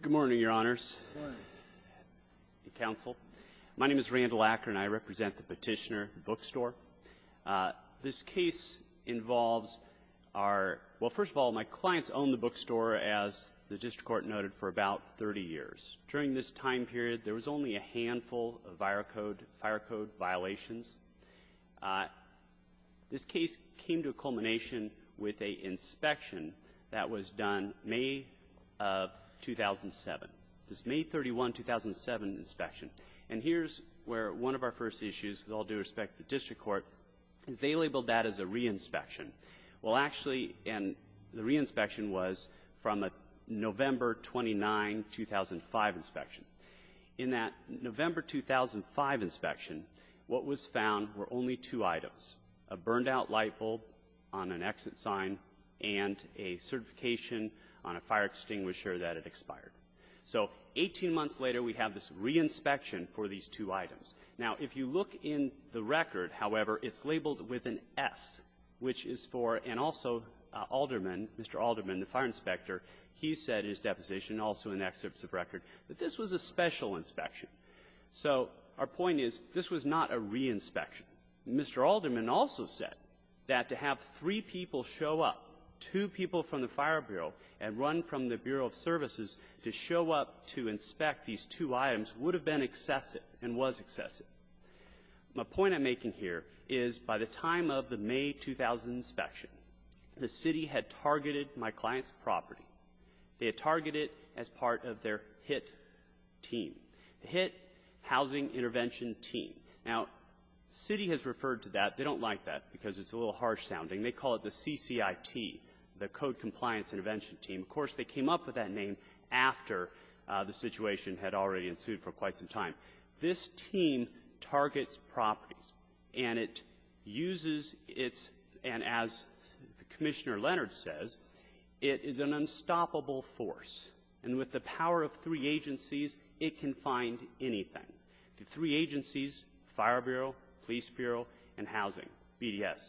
Good morning, Your Honors, and counsel. My name is Randall Acker, and I represent the Petitioner Bookstore. This case involves our – well, first of all, my clients owned the bookstore, as the district court noted, for about 30 years. During this time period, there was only a handful of fire code violations. This case came to a culmination with an inspection that was done May of 2007, this May 31, 2007, inspection. And here's where one of our first issues, with all due respect to the district court, is they labeled that as a re-inspection. Well, actually, and the re-inspection was from a November 29, 2005, inspection. In that November 2005 inspection, what was found were only two items, a burned-out light bulb on an exit sign and a certification on a fire extinguisher that had expired. So 18 months later, we have this re-inspection for these two items. Now, if you look in the record, however, it's labeled with an S, which is for – and also Alderman, Mr. Alderman, the fire inspector, he said in his deposition, also in the excerpts of record, that this was a special inspection. So our point is, this was not a re-inspection. Mr. Alderman also said that to have three people show up, two people from the Fire Bureau and one from the Bureau of Services, to show up to inspect these two items would have been excessive and was excessive. My point I'm making here is, by the time of the May 2000 inspection, the city had targeted my client's property. They had targeted it as part of their HIT team, the HIT Housing Intervention Team. Now, the city has referred to that. They don't like that because it's a little harsh-sounding. They call it the CCIT, the Code Compliance Intervention Team. Of course, they came up with that name after the situation had already ensued for quite some time. This team targets properties. And it uses its – and as Commissioner Leonard says, it is an unstoppable force. And with the power of three agencies, it can find anything. The three agencies, Fire Bureau, Police Bureau, and Housing, BDS.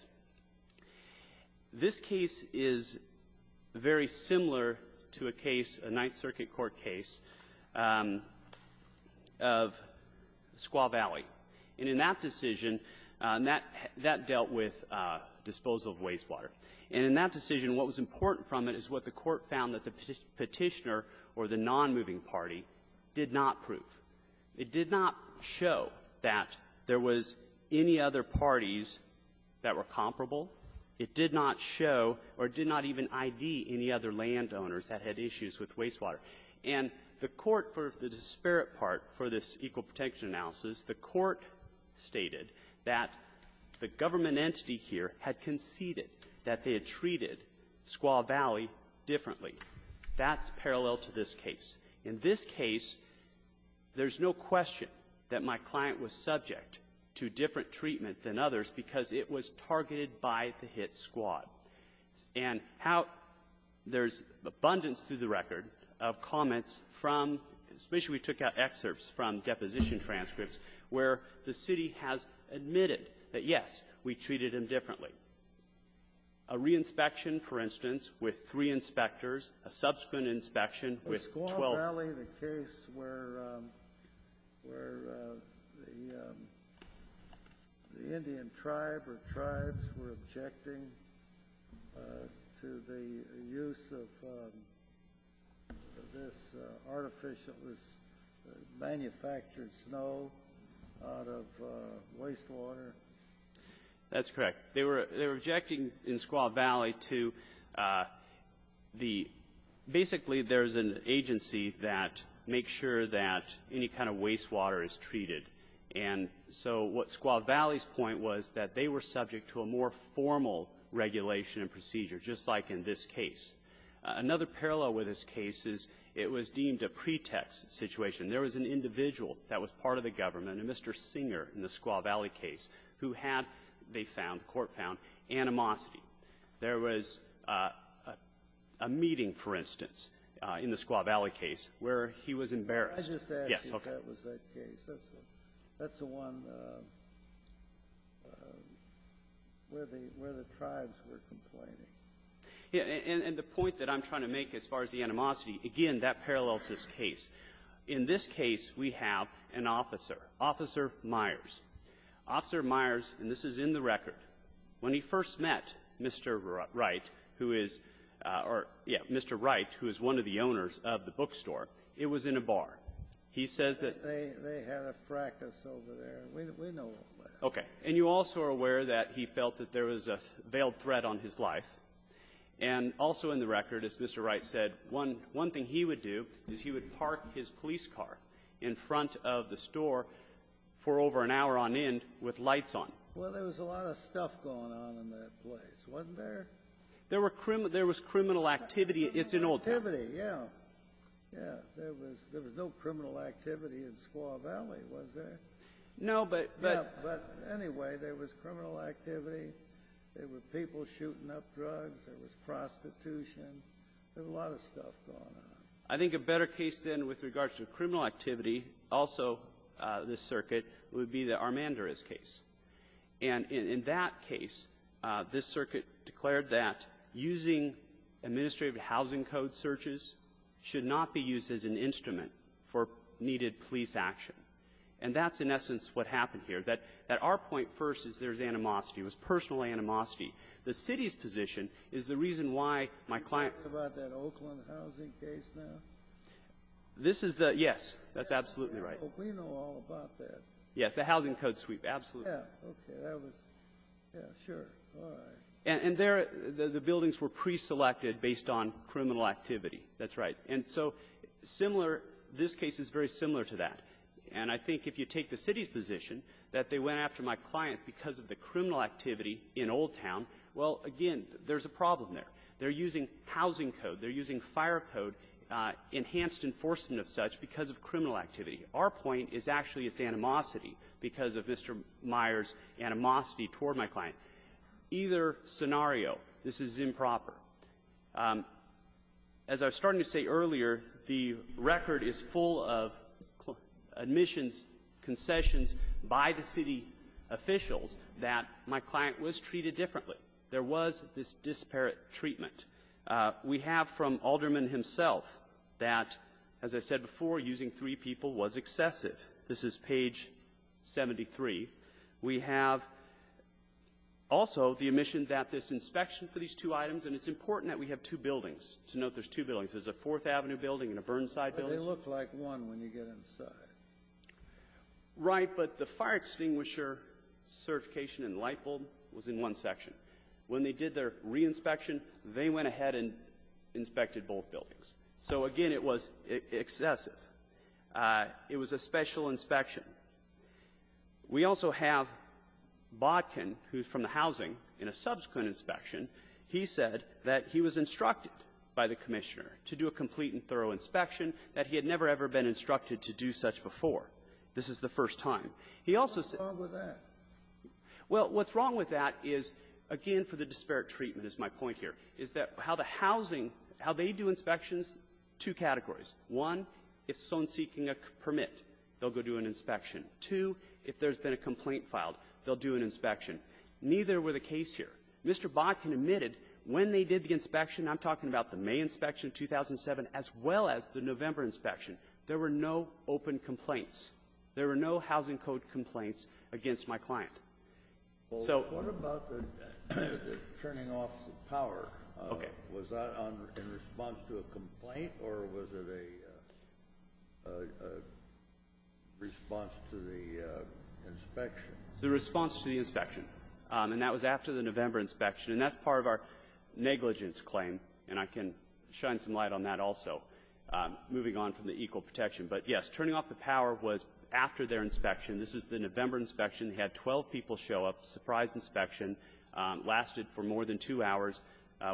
This case is very similar to a case, a Ninth Circuit court case, of a case that was in the Squaw Valley. And in that decision, that dealt with disposal of wastewater. And in that decision, what was important from it is what the Court found that the Petitioner or the nonmoving party did not prove. It did not show that there was any other parties that were comparable. It did not show or did not even ID any other landowners that had issues with wastewater. And the Court, for the disparate part for this Equal Protection analysis, the Court stated that the government entity here had conceded that they had treated Squaw Valley differently. That's parallel to this case. In this case, there's no question that my client was subject to different treatment than others because it was targeted by the hit squad. And how there's abundance through the record of comments from – especially as we took out excerpts from deposition transcripts, where the city has admitted that, yes, we treated them differently. A reinspection, for instance, with three inspectors, a subsequent inspection with 12. In Squaw Valley, the case where the Indian tribe or tribes were objecting to the use of this artificial – this manufactured snow out of wastewater. That's correct. They were – they were objecting in Squaw Valley to the – basically, there's an agency that makes sure that any kind of wastewater is treated. And so what Squaw Valley's point was that they were subject to a more formal regulation and procedure, just like in this case. Another parallel with this case is it was deemed a pretext situation. There was an individual that was part of the government, a Mr. Singer in the Squaw Valley court found, animosity. There was a meeting, for instance, in the Squaw Valley case where he was embarrassed. Yes. Okay. Kennedy. I just asked if that was the case. That's the one where the – where the tribes were complaining. And the point that I'm trying to make as far as the animosity, again, that parallels this case. In this case, we have an officer, Officer Myers. Officer Myers, and this is in the record, when he first met Mr. Wright, who is – or, yeah, Mr. Wright, who is one of the owners of the bookstore, it was in a bar. He says that — They had a fracas over there. We know about that. Okay. And you also are aware that he felt that there was a veiled threat on his life. And also in the record, as Mr. Wright said, one – one thing he would do is he would park his police car in front of the store for over an hour on end with lights on. Well, there was a lot of stuff going on in that place, wasn't there? There were – there was criminal activity. It's an old — Criminal activity, yeah. Yeah. There was – there was no criminal activity in Squaw Valley, was there? No, but — Yeah, but anyway, there was criminal activity. There were people shooting up drugs. There was prostitution. There was a lot of stuff going on. I think a better case, then, with regards to criminal activity, also, this circuit, would be the Armandarez case. And in that case, this circuit declared that using administrative housing code searches should not be used as an instrument for needed police action. And that's, in essence, what happened here, that our point first is there's animosity. It was personal animosity. The City's position is the reason why my client — This is the — yes. That's absolutely right. We know all about that. Yes. The housing code sweep. Absolutely. Yeah. Okay. That was — yeah, sure. All right. And there, the buildings were preselected based on criminal activity. That's right. And so similar — this case is very similar to that. And I think if you take the City's position that they went after my client because of the criminal activity in Old Town, well, again, there's a problem there. They're using housing code. They're using fire code, enhanced enforcement of such, because of criminal activity. Our point is actually it's animosity because of Mr. Meyer's animosity toward my client. Either scenario, this is improper. As I was starting to say earlier, the record is full of admissions, concessions by the City officials that my client was treated differently. There was this disparate treatment. We have from Alderman himself that, as I said before, using three people was excessive. This is page 73. We have also the admission that this inspection for these two items, and it's important that we have two buildings, to note there's two buildings. There's a Fourth Avenue building and a Burnside building. But they look like one when you get inside. Right. But the fire extinguisher certification in Lightbulb was in one section. When they did their re-inspection, they went ahead and inspected both buildings. So, again, it was excessive. It was a special inspection. We also have Bodkin, who's from the housing, in a subsequent inspection, he said that he was instructed by the Commissioner to do a complete and thorough inspection, that he had never, ever been instructed to do such before. This is the first time. He also said ---- Scaliaro, what's wrong with that? Well, what's wrong with that is, again, for the disparate treatment is my point here, is that how the housing, how they do inspections, two categories. One, if someone's seeking a permit, they'll go do an inspection. Two, if there's been a complaint filed, they'll do an inspection. Neither were the case here. Mr. Bodkin admitted when they did the inspection, I'm talking about the May inspection of 2007, as well as the November inspection, there were no open complaints. There were no housing code complaints against my client. So ---- Well, what about the turning off the power? Okay. Was that in response to a complaint, or was it a response to the inspection? It was a response to the inspection. And that was after the November inspection. And that's part of our negligence claim. And I can shine some light on that also, moving on from the equal protection. But, yes, turning off the power was after their inspection. This is the November inspection. They had 12 people show up. A surprise inspection lasted for more than two hours,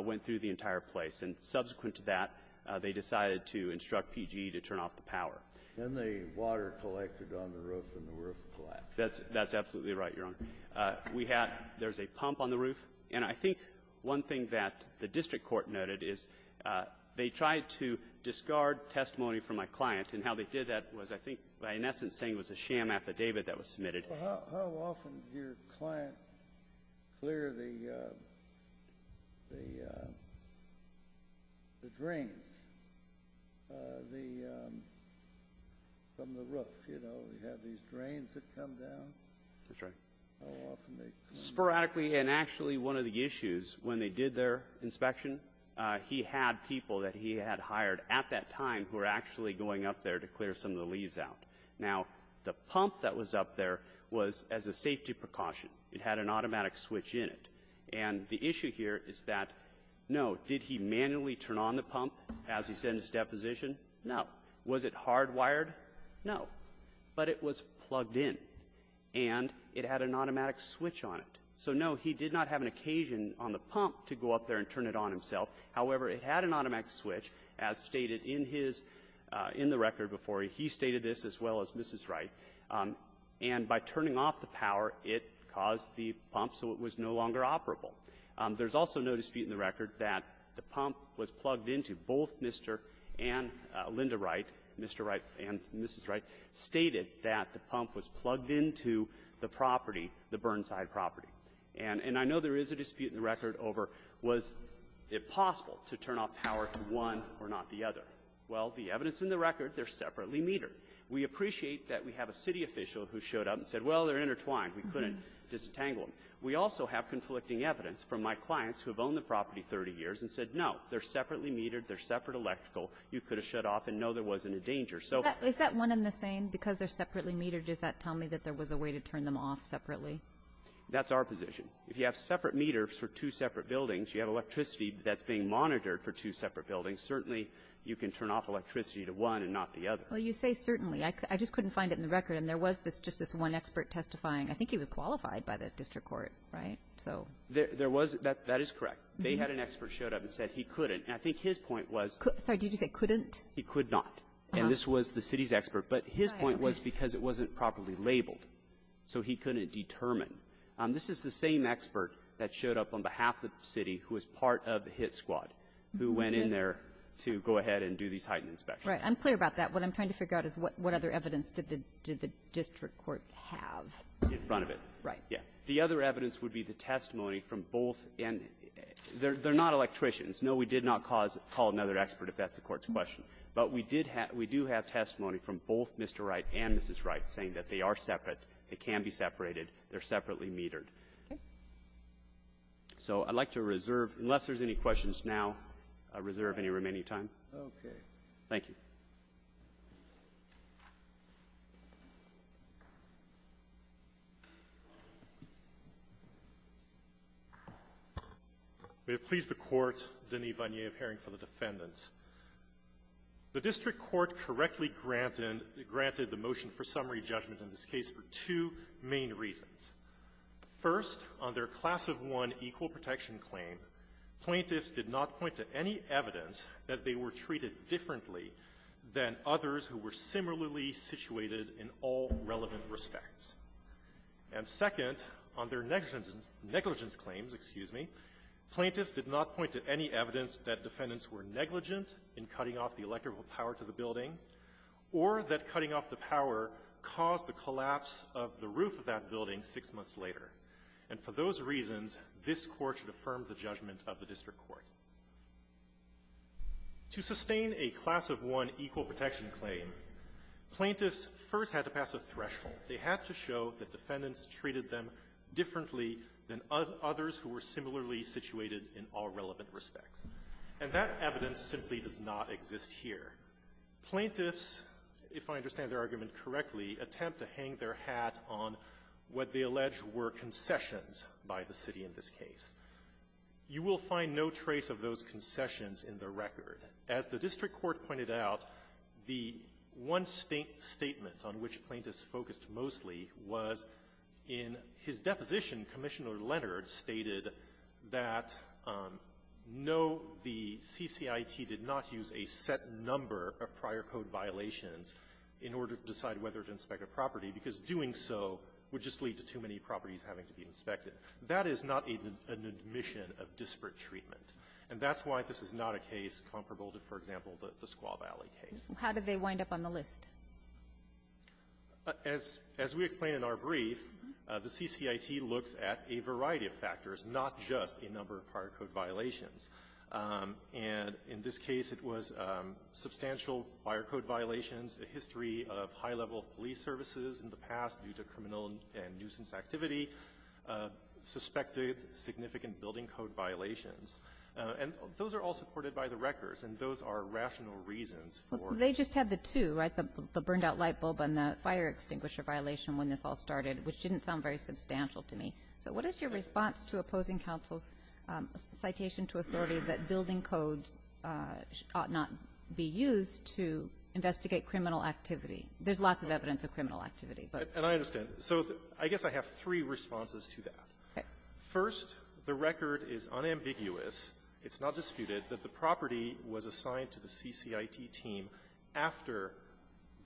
went through the entire place. And subsequent to that, they decided to instruct PG to turn off the power. And the water collected on the roof and the roof collapsed. That's absolutely right, Your Honor. We had ---- there's a pump on the roof. And I think one thing that the district court noted is they tried to discard testimony from my client. And how they did that was, I think, by in essence saying it was a sham affidavit that was submitted. Well, how often does your client clear the drains from the roof, you know, you have these drains that come down? That's right. How often do they clear them? Sporadically. And actually, one of the issues, when they did their inspection, he had people that he had hired at that time who were actually going up there to clear some of the leaves out. Now, the pump that was up there was as a safety precaution. It had an automatic switch in it. And the issue here is that, no, did he manually turn on the pump as he said in his deposition? No. Was it hardwired? No. But it was plugged in. And it had an automatic switch on it. So, no, he did not have an occasion on the pump to go up there and turn it on himself. However, it had an automatic switch, as stated in his — in the record before he. He stated this, as well as Mrs. Wright. And by turning off the power, it caused the pump so it was no longer operable. There's also no dispute in the record that the pump was plugged into. Both Mr. and Linda Wright, Mr. Wright and Mrs. Wright, stated that the pump was plugged into the property, the Burnside property. And I know there is a dispute in the record over was it possible to turn off power in one or not the other. Well, the evidence in the record, they're separately metered. We appreciate that we have a city official who showed up and said, well, they're intertwined. We couldn't disentangle them. We also have conflicting evidence from my clients who have owned the property 30 years and said, no, they're separately metered. They're separate electrical. You could have shut off and know there wasn't a danger. So — Kagan. Is that one and the same, because they're separately metered? Does that tell me that there was a way to turn them off separately? That's our position. If you have separate meters for two separate buildings, you have electricity that's being monitored for two separate buildings, certainly you can turn off electricity to one and not the other. Well, you say certainly. I just couldn't find it in the record. And there was just this one expert testifying. I think he was qualified by the district court, right? So — There was — that is correct. They had an expert show up and said he couldn't. And I think his point was — Sorry. Did you say couldn't? He could not. And this was the city's expert. But his point was because it wasn't properly labeled. So he couldn't determine. This is the same expert that showed up on behalf of the city who was part of the hit squad who went in there to go ahead and do these heightened inspections. Right. I'm clear about that. What I'm trying to figure out is what other evidence did the district court have? In front of it. Right. Yeah. The other evidence would be the testimony from both — and they're not electricians. No, we did not cause — call another expert if that's the Court's question. But we did have — we do have testimony from both Mr. Wright and Mrs. Wright saying that they are separate, they can be separated, they're separately metered. Okay. So I'd like to reserve — unless there's any questions now, I'll reserve any remaining time. Okay. Thank you. We have pleased the Court, Denis Vanier, of hearing for the defendants. The district court correctly granted — granted the motion for summary judgment in this case for two main reasons. First, on their Class of 1 equal protection claim, plaintiffs did not point to any evidence that they were treated differently than others who were similarly situated in all relevant respects. And second, on their negligence — negligence claims, excuse me, plaintiffs did not point to any evidence that defendants were negligent in cutting off the electrical power to the building or that cutting off the power caused the collapse of the roof of that building six months later. And for those reasons, this Court should affirm the judgment of the district court. To sustain a Class of 1 equal protection claim, plaintiffs first had to pass a threshold. They had to show that defendants treated them differently than others who were similarly situated in all relevant respects. And that evidence simply does not exist here. Plaintiffs, if I understand their argument correctly, attempt to hang their hat on what they allege were concessions by the city in this case. You will find no trace of those concessions in the record. As the district court pointed out, the one statement on which plaintiffs focused mostly was in his deposition, Commissioner Leonard stated that, no, the CCIT did not use a set number of prior code violations in order to decide whether to inspect a property, because doing so would just lead to too many properties having to be inspected. That is not an admission of disparate treatment. And that's why this is not a case comparable to, for example, the Squaw Valley case. How did they wind up on the list? As we explained in our brief, the CCIT looks at a variety of factors, not just a number of prior code violations. And in this case, it was substantial prior code violations, a history of high level of police services in the past due to criminal and nuisance activity, suspected significant building code violations. And those are all supported So they just had the two, right, the burned-out light bulb and the fire extinguisher violation when this all started, which didn't sound very substantial to me. So what is your response to opposing counsel's citation to authority that building codes ought not be used to investigate criminal activity? There's lots of evidence of criminal activity, but --- And I understand. So I guess I have three responses to that. First, the record is unambiguous. It's not disputed that the property was assigned to the CCIT team after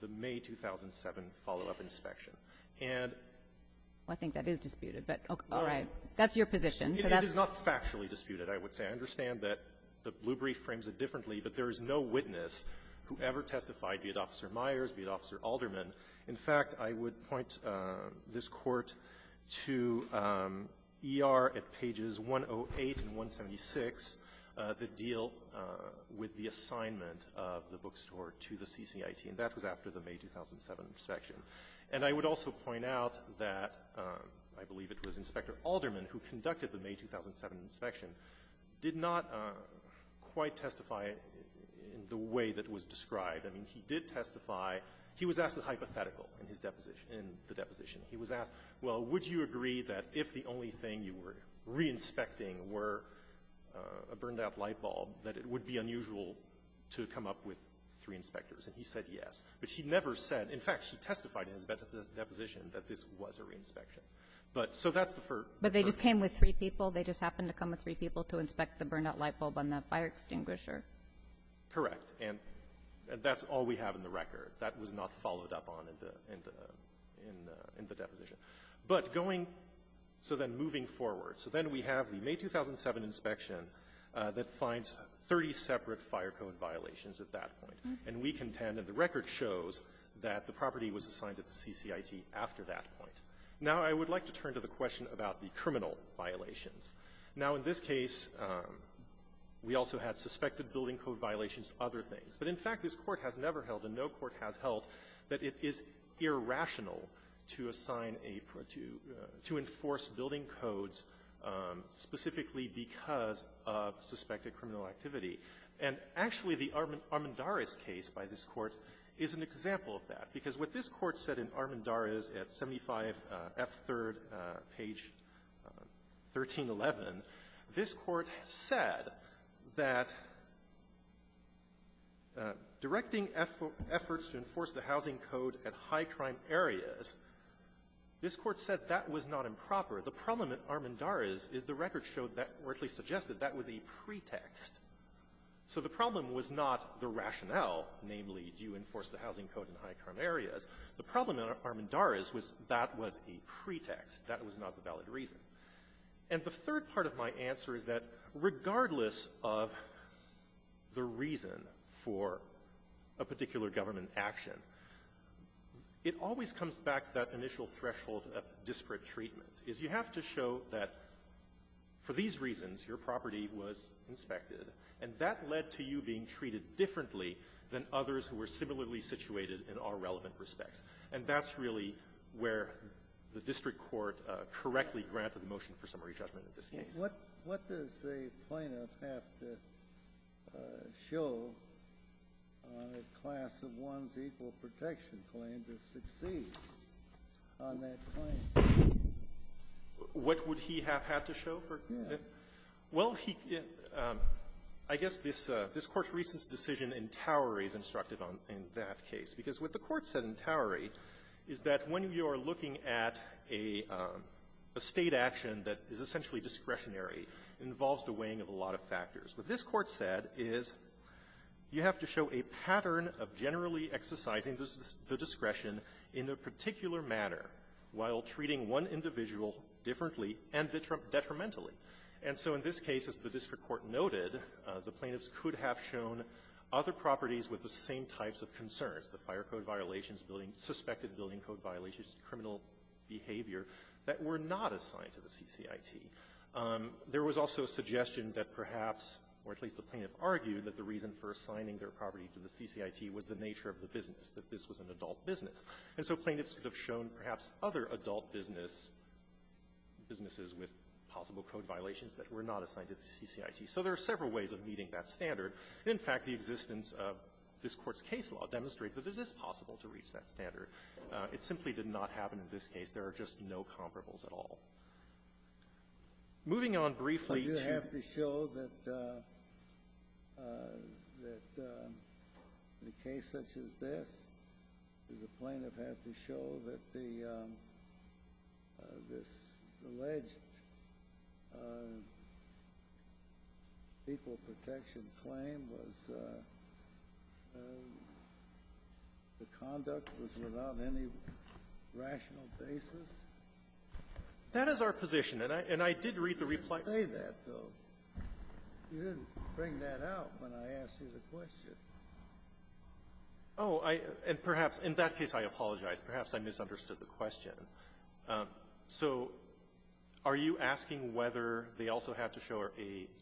the May 2007 follow-up inspection. And --- Well, I think that is disputed, but all right. That's your position. It is not factually disputed, I would say. I understand that the blue brief frames it differently, but there is no witness who ever testified, be it Officer Myers, be it Officer Alderman. In fact, I would point this Court to ER at pages 108 and 176, the deal with the assignment of the bookstore to the CCIT, and that was after the May 2007 inspection. And I would also point out that I believe it was Inspector Alderman who conducted the May 2007 inspection did not quite testify in the way that was described. I mean, he did testify. He was asked a hypothetical in his deposition -- in the deposition. He was asked, well, would you agree that if the only thing that we were re-inspecting were a burned-out light bulb, that it would be unusual to come up with three inspectors? And he said yes. But he never said -- in fact, he testified in his deposition that this was a re-inspection. But so that's the first question. But they just came with three people. They just happened to come with three people to inspect the burned-out light bulb on that fire extinguisher. Correct. And that's all we have in the record. That was not followed up on in the -- in the deposition. But going so then moving forward, so then we have the May 2007 inspection that finds 30 separate fire code violations at that point. And we contend, and the record shows, that the property was assigned to the CCIT after that point. Now, I would like to turn to the question about the criminal violations. Now, in this case, we also had suspected building code violations, other things. But in fact, this Court has never held, and no court has held, that it is irrational to assign a pro to enforce building codes specifically because of suspected criminal activity. And actually, the Armendariz case by this Court is an example of that, because what this Court said in Armendariz at 75F3rd, page 1311, this Court said that directing efforts to enforce the housing code at high-crime areas is not a criminal violation. This Court said that was not improper. The problem in Armendariz is the record showed that or at least suggested that was a pretext. So the problem was not the rationale, namely, do you enforce the housing code in high-crime areas. The problem in Armendariz was that was a pretext. That was not the valid reason. And the third part of my answer is that regardless of the reason for a particular government action, it always comes back to the fact that initial threshold of disparate treatment, is you have to show that for these reasons, your property was inspected, and that led to you being treated differently than others who were similarly situated in all relevant respects. And that's really where the district court correctly granted the motion for summary judgment in this case. Kennedy. What does a plaintiff have to show on a class-of-one's equal protection claim to succeed on that claim? What would he have had to show for that? Yeah. Well, he can – I guess this Court's recent decision in Towery is instructed on that case, because what the Court said in Towery is that when you are looking at a State action that is essentially discretionary, it involves the weighing of a lot of factors. What this Court said is you have to show a pattern of generally exercising the discretion in a particular manner while treating one individual differently and detrimentally. And so in this case, as the district court noted, the plaintiffs could have shown other properties with the same types of concerns, the fire code violations, building – suspected building code violations, criminal behavior, that were not assigned to the CCIT. There was also a suggestion that perhaps, or at least the plaintiff argued, that the reason for assigning their property to the CCIT was the nature of the business, that this was an adult business. And so plaintiffs could have shown perhaps other adult business – businesses with possible code violations that were not assigned to the CCIT. So there are several ways of meeting that standard. In fact, the existence of this Court's case law demonstrates that it is possible to reach that standard. It simply did not happen in this case. There are just no comparables at all. Moving on briefly to the court's case law, you have to show that the case such as this, does the plaintiff have to show that the – this alleged equal protection claim was – the conduct was without any rational basis? That is our position. And I did read the reply. You didn't say that, though. You didn't bring that out when I asked you the question. Oh, I – and perhaps in that case I apologize. Perhaps I misunderstood the question. So are you asking whether they also have to show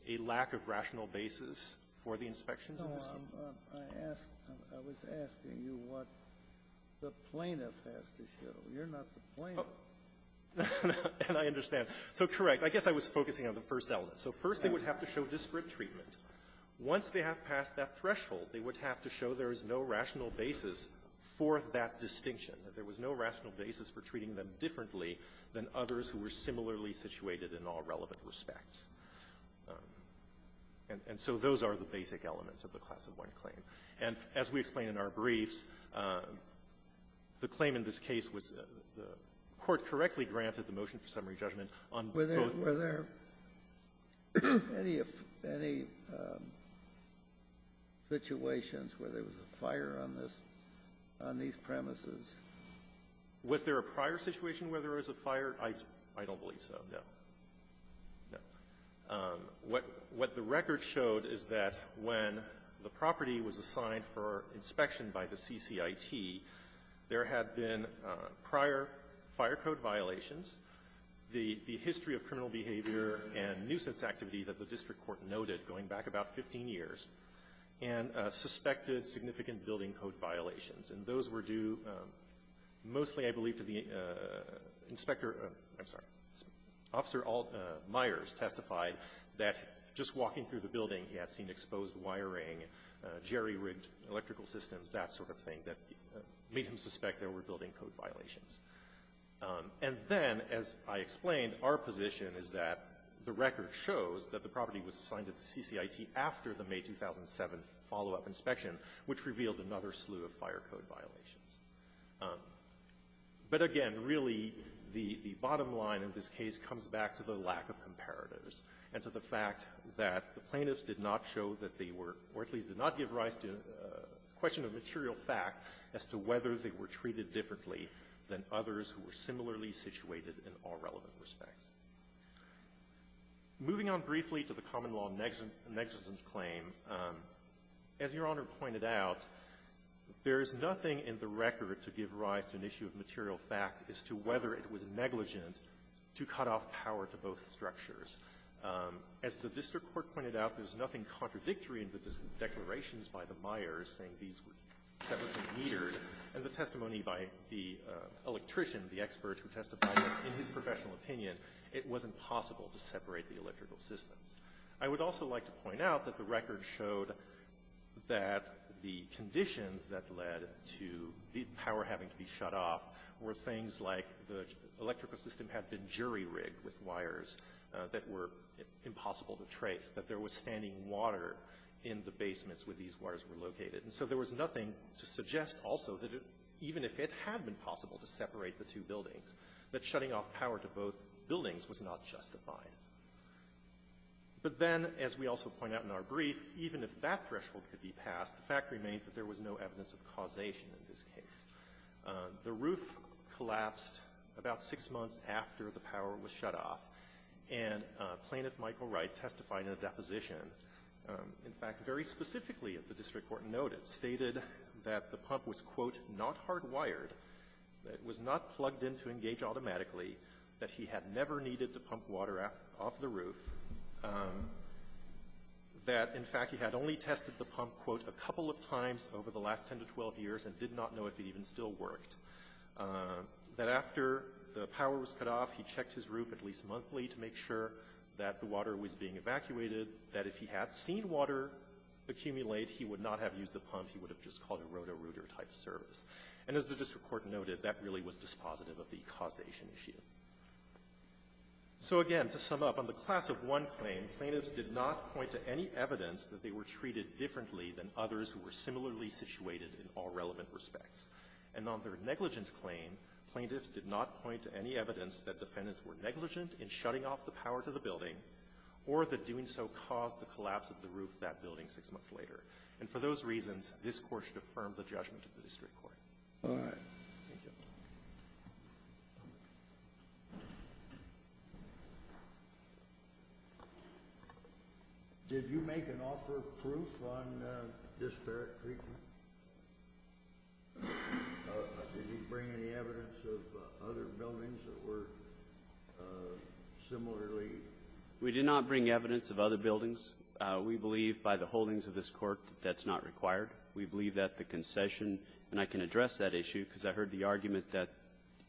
a lack of rational basis for the inspections in this case? No, I'm – I asked – I was asking you what the plaintiff has to show. You're not the plaintiff. And I understand. So, correct. I guess I was focusing on the first element. So first, they would have to show disparate treatment. Once they have passed that threshold, they would have to show there is no rational basis for that distinction, that there was no rational basis for treating them differently than others who were similarly situated in all relevant respects. And so those are the basic elements of the Class of 1 claim. And as we explain in our briefs, the claim in this case was the court correctly granted the motion for summary judgment on both of them. Were there any of – any situations where there was a fire on this – on these premises? Was there a prior situation where there was a fire? I don't believe so, no. No. What the record showed is that when the property was assigned for inspection by the CCIT, there had been prior fire code violations, the history of criminal behavior and nuisance activity that the district court noted going back about 15 years, and suspected significant building code violations. And those were due mostly, I believe, to the inspector – I'm sorry, Officer Alt Myers testified that just sort of thing that made him suspect there were building code violations. And then, as I explained, our position is that the record shows that the property was assigned to the CCIT after the May 2007 follow-up inspection, which revealed another slew of fire code violations. But again, really, the bottom line of this case comes back to the lack of comparatives and to the fact that the plaintiffs did not show that they were, or at least did not give rise to a question of material fact as to whether they were treated differently than others who were similarly situated in all relevant respects. Moving on briefly to the common law negligence claim, as Your Honor pointed out, there is nothing in the record to give rise to an issue of material fact as to whether it was negligent to cut off power to both structures. As the district court pointed out, there's nothing contradictory in the declarations by the Myers saying these were separately metered. And the testimony by the electrician, the expert who testified in his professional opinion, it wasn't possible to separate the electrical systems. I would also like to point out that the record showed that the conditions that led to the power having to be shut off were things like the electrical system had been jury-rigged with wires that were impossible to trace. And so, again, there was no evidence that there was standing water in the basements where these wires were located. And so there was nothing to suggest also that it, even if it had been possible to separate the two buildings, that shutting off power to both buildings was not justified. But then, as we also point out in our brief, even if that threshold could be passed, the fact remains that there was no evidence of causation in this case. The roof collapsed about six months after the power was shut off, and Plaintiff Michael Wright testified in a deposition, in fact, very specifically, as the district court noted, stated that the pump was, quote, not hardwired, that it was not plugged in to engage automatically, that he had never needed to pump water off the roof, that, in fact, he had only tested the pump, quote, a couple of times over the last 10 to 12 years and did not know if it even still worked, that after the power was cut off, he checked his roof at least monthly to make sure that the water was still running, that the water was being evacuated, that if he had seen water accumulate, he would not have used the pump, he would have just called a roto-rooter-type service. And as the district court noted, that really was dispositive of the causation issue. So again, to sum up, on the Class of 1 claim, plaintiffs did not point to any evidence that they were treated differently than others who were similarly situated in all relevant respects. And on their negligence claim, plaintiffs did not point to any evidence that defendants were negligent in shutting off the power to the building or that doing so caused the collapse of the roof of that building six months later. And for those reasons, this Court should affirm the judgment of the district court. All right. Did you make an offer of proof on this Barrett Creek? Did you bring any evidence of other buildings that were similarly? We did not bring evidence of other buildings. We believe by the holdings of this Court that that's not required. We believe that the concession, and I can address that issue because I heard the argument that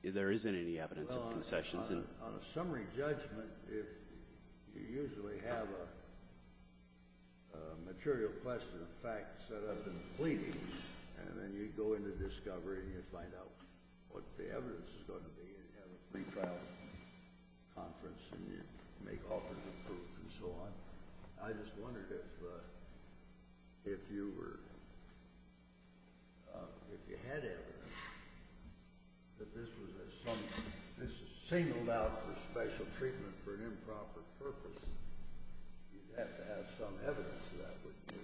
there isn't any evidence of concessions. Well, on a summary judgment, if you usually have a material question of fact set up in the pleadings, and then you go into discovery and you find out what the evidence is going to be, and you have a pre-trial conference and you make offers of proof and so on, I just wondered if you were — if you had evidence that this was a — this is singled out for special treatment for an improper purpose. You'd have to have some evidence of that, wouldn't you?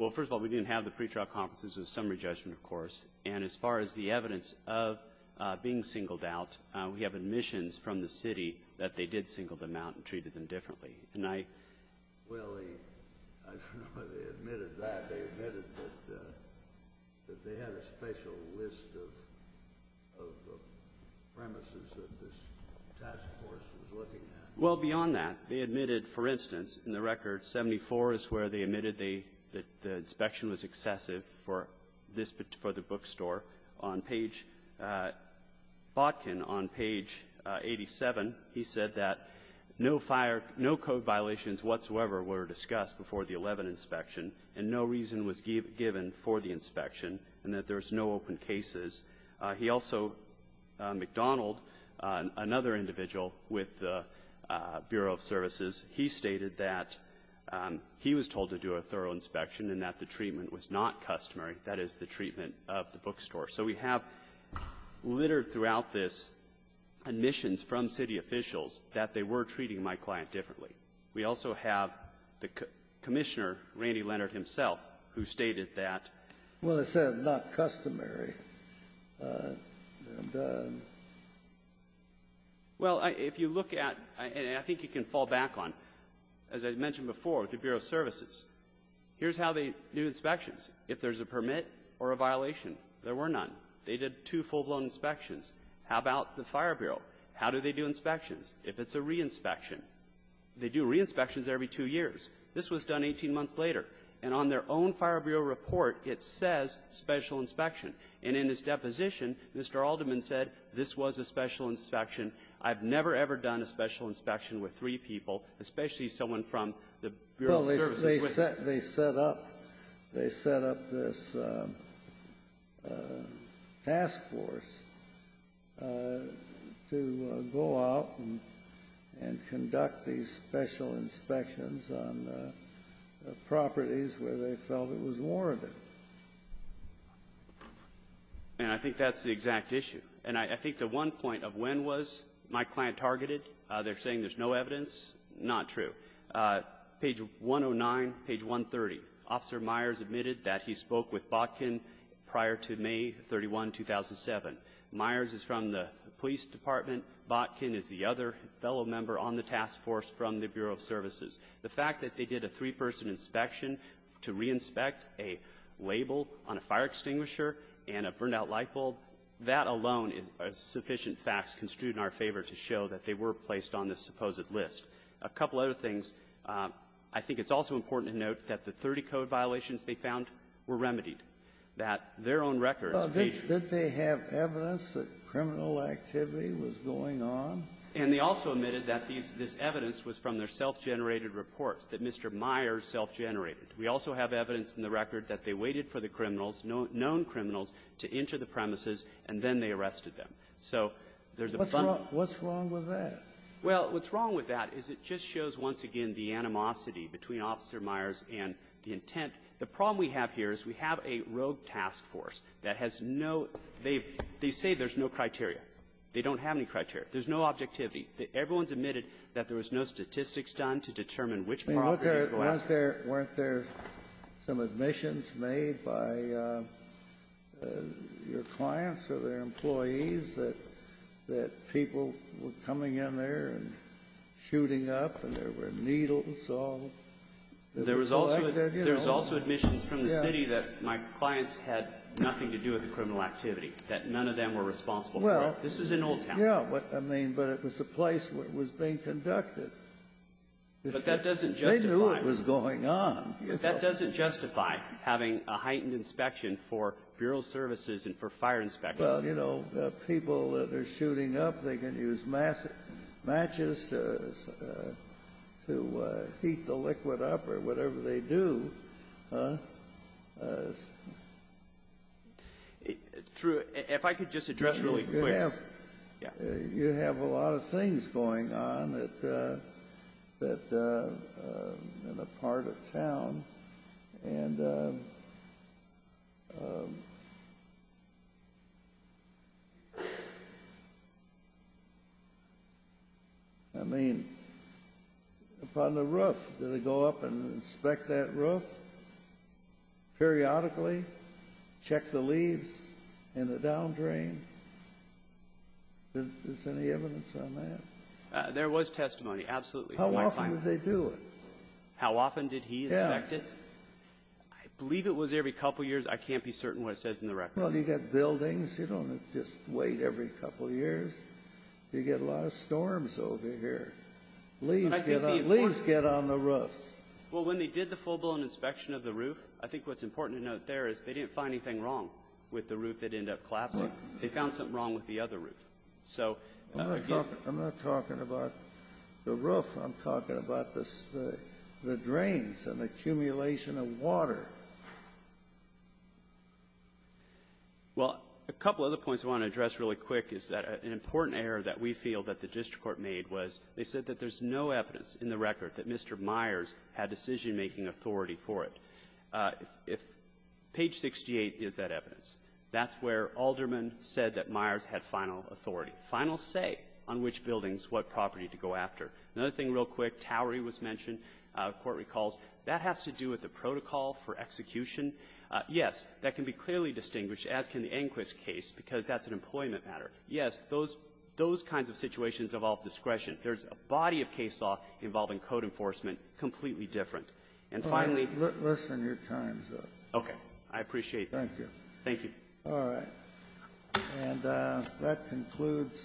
Well, first of all, we didn't have the pre-trial conferences. It was a summary judgment, of course. And as far as the evidence of being singled out, we have admissions from the city that they did single them out and treated them differently. And I — Well, I don't know whether they admitted that. They admitted that they had a special list of premises that this task force was looking at. Well, beyond that, they admitted, for instance, in the record 74 is where they admitted that the inspection was excessive for this — for the bookstore. On page — Botkin, on page 87, he said that no fire — no code violations whatsoever were discussed before the 11 inspection, and no reason was given for the inspection, and that there was no open cases. He also — McDonald, another individual with the Bureau of Services, he stated that he was told to do a thorough inspection and that the treatment was not customary. That is the treatment of the bookstore. So we have littered throughout this admissions from city officials that they were treating my client differently. We also have the Commissioner, Randy Leonard himself, who stated that — Well, it said not customary. Well, if you look at — and I think you can fall back on, as I mentioned before, with the Bureau of Services, here's how they do inspections. If there's a permit or a violation, there were none. They did two full-blown inspections. How about the Fire Bureau? How do they do inspections? If it's a re-inspection, they do re-inspections every two years. This was done 18 months later. And on their own Fire Bureau report, it says special inspection. And in his deposition, Mr. Alderman said, this was a special inspection. I've never, ever done a special inspection with three people, especially someone from the Bureau of Services. Well, they set — they set up — they set up this task force to go out and conduct these special inspections on properties where they felt it was warranted. And I think that's the exact issue. And I think the one point of when was my client targeted, they're saying there's no evidence, not true. Page 109, page 130, Officer Myers admitted that he spoke with Botkin prior to May 31, 2007. Myers is from the police department. Botkin is the other fellow member on the task force from the Bureau of Services. The fact that they did a three-person inspection to re-inspect a label on a fire extinguisher and a burned-out light bulb, that alone is sufficient facts construed in our favor to show that they were placed on this supposed list. A couple other things, I think it's also important to note that the 30 code violations they found were remedied, that their own records paged. Well, didn't they have evidence that criminal activity was going on? And they also admitted that these — this evidence was from their self-generated reports that Mr. Myers self-generated. We also have evidence in the record that they waited for the criminals, known criminals, to enter the premises, and then they arrested them. So there's a fun — What's wrong? What's wrong with that? Well, what's wrong with that is it just shows, once again, the animosity between Officer Myers and the intent. The problem we have here is we have a rogue task force that has no — they say there's no criteria. They don't have any criteria. There's no objectivity. Everyone's admitted that there was no statistics done to determine which property to go after. Didn't they look at it? Weren't there some admissions made by your clients or their employees that people were coming in there and shooting up, and there were needles or — There was also admissions from the city that my clients had nothing to do with the criminal activity, that none of them were responsible for it. Well — This is in Old Town. Yeah. But, I mean, but it was a place where it was being conducted. But that doesn't justify — They knew what was going on. That doesn't justify having a heightened inspection for Bureau services and for fire inspection. Well, you know, people that are shooting up, they can use matches to heat the liquid up or whatever they do. Through — if I could just address really quick — You have — Yeah. I mean, upon the roof, did they go up and inspect that roof periodically, check the leaves and the down drain? Is there any evidence on that? There was testimony, absolutely. How often did they do it? How often did he inspect it? Yeah. I believe it was every couple years. I can't be certain what it says in the record. Well, you got buildings. You don't just wait every couple years. You get a lot of storms over here. Leaves get on — leaves get on the roofs. Well, when they did the full-blown inspection of the roof, I think what's important to note there is they didn't find anything wrong with the roof that ended up collapsing. They found something wrong with the other roof. So — I'm not talking about the roof. I'm talking about the — the drains and the accumulation of water. Well, a couple other points I want to address really quick is that an important error that we feel that the district court made was they said that there's no evidence in the record that Mr. Myers had decision-making authority for it. If page 68 is that evidence, that's where Alderman said that Myers had final authority, final say on which buildings, what property to go after. Another thing real quick, towery was mentioned, court recalls. That has to do with the protocol for execution. Yes, that can be clearly distinguished, as can the Inquis case, because that's an employment matter. Yes, those — those kinds of situations involve discretion. There's a body of case law involving code enforcement completely different. And finally — Kennedy. Let's end your time, sir. I appreciate that. Thank you. Thank you. All right. And that concludes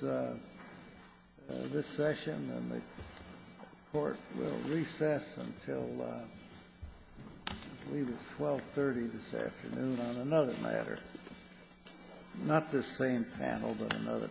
this session. And the court will recess until I believe it's 1230 this afternoon on another matter. Not this same panel, but another panel. All rise.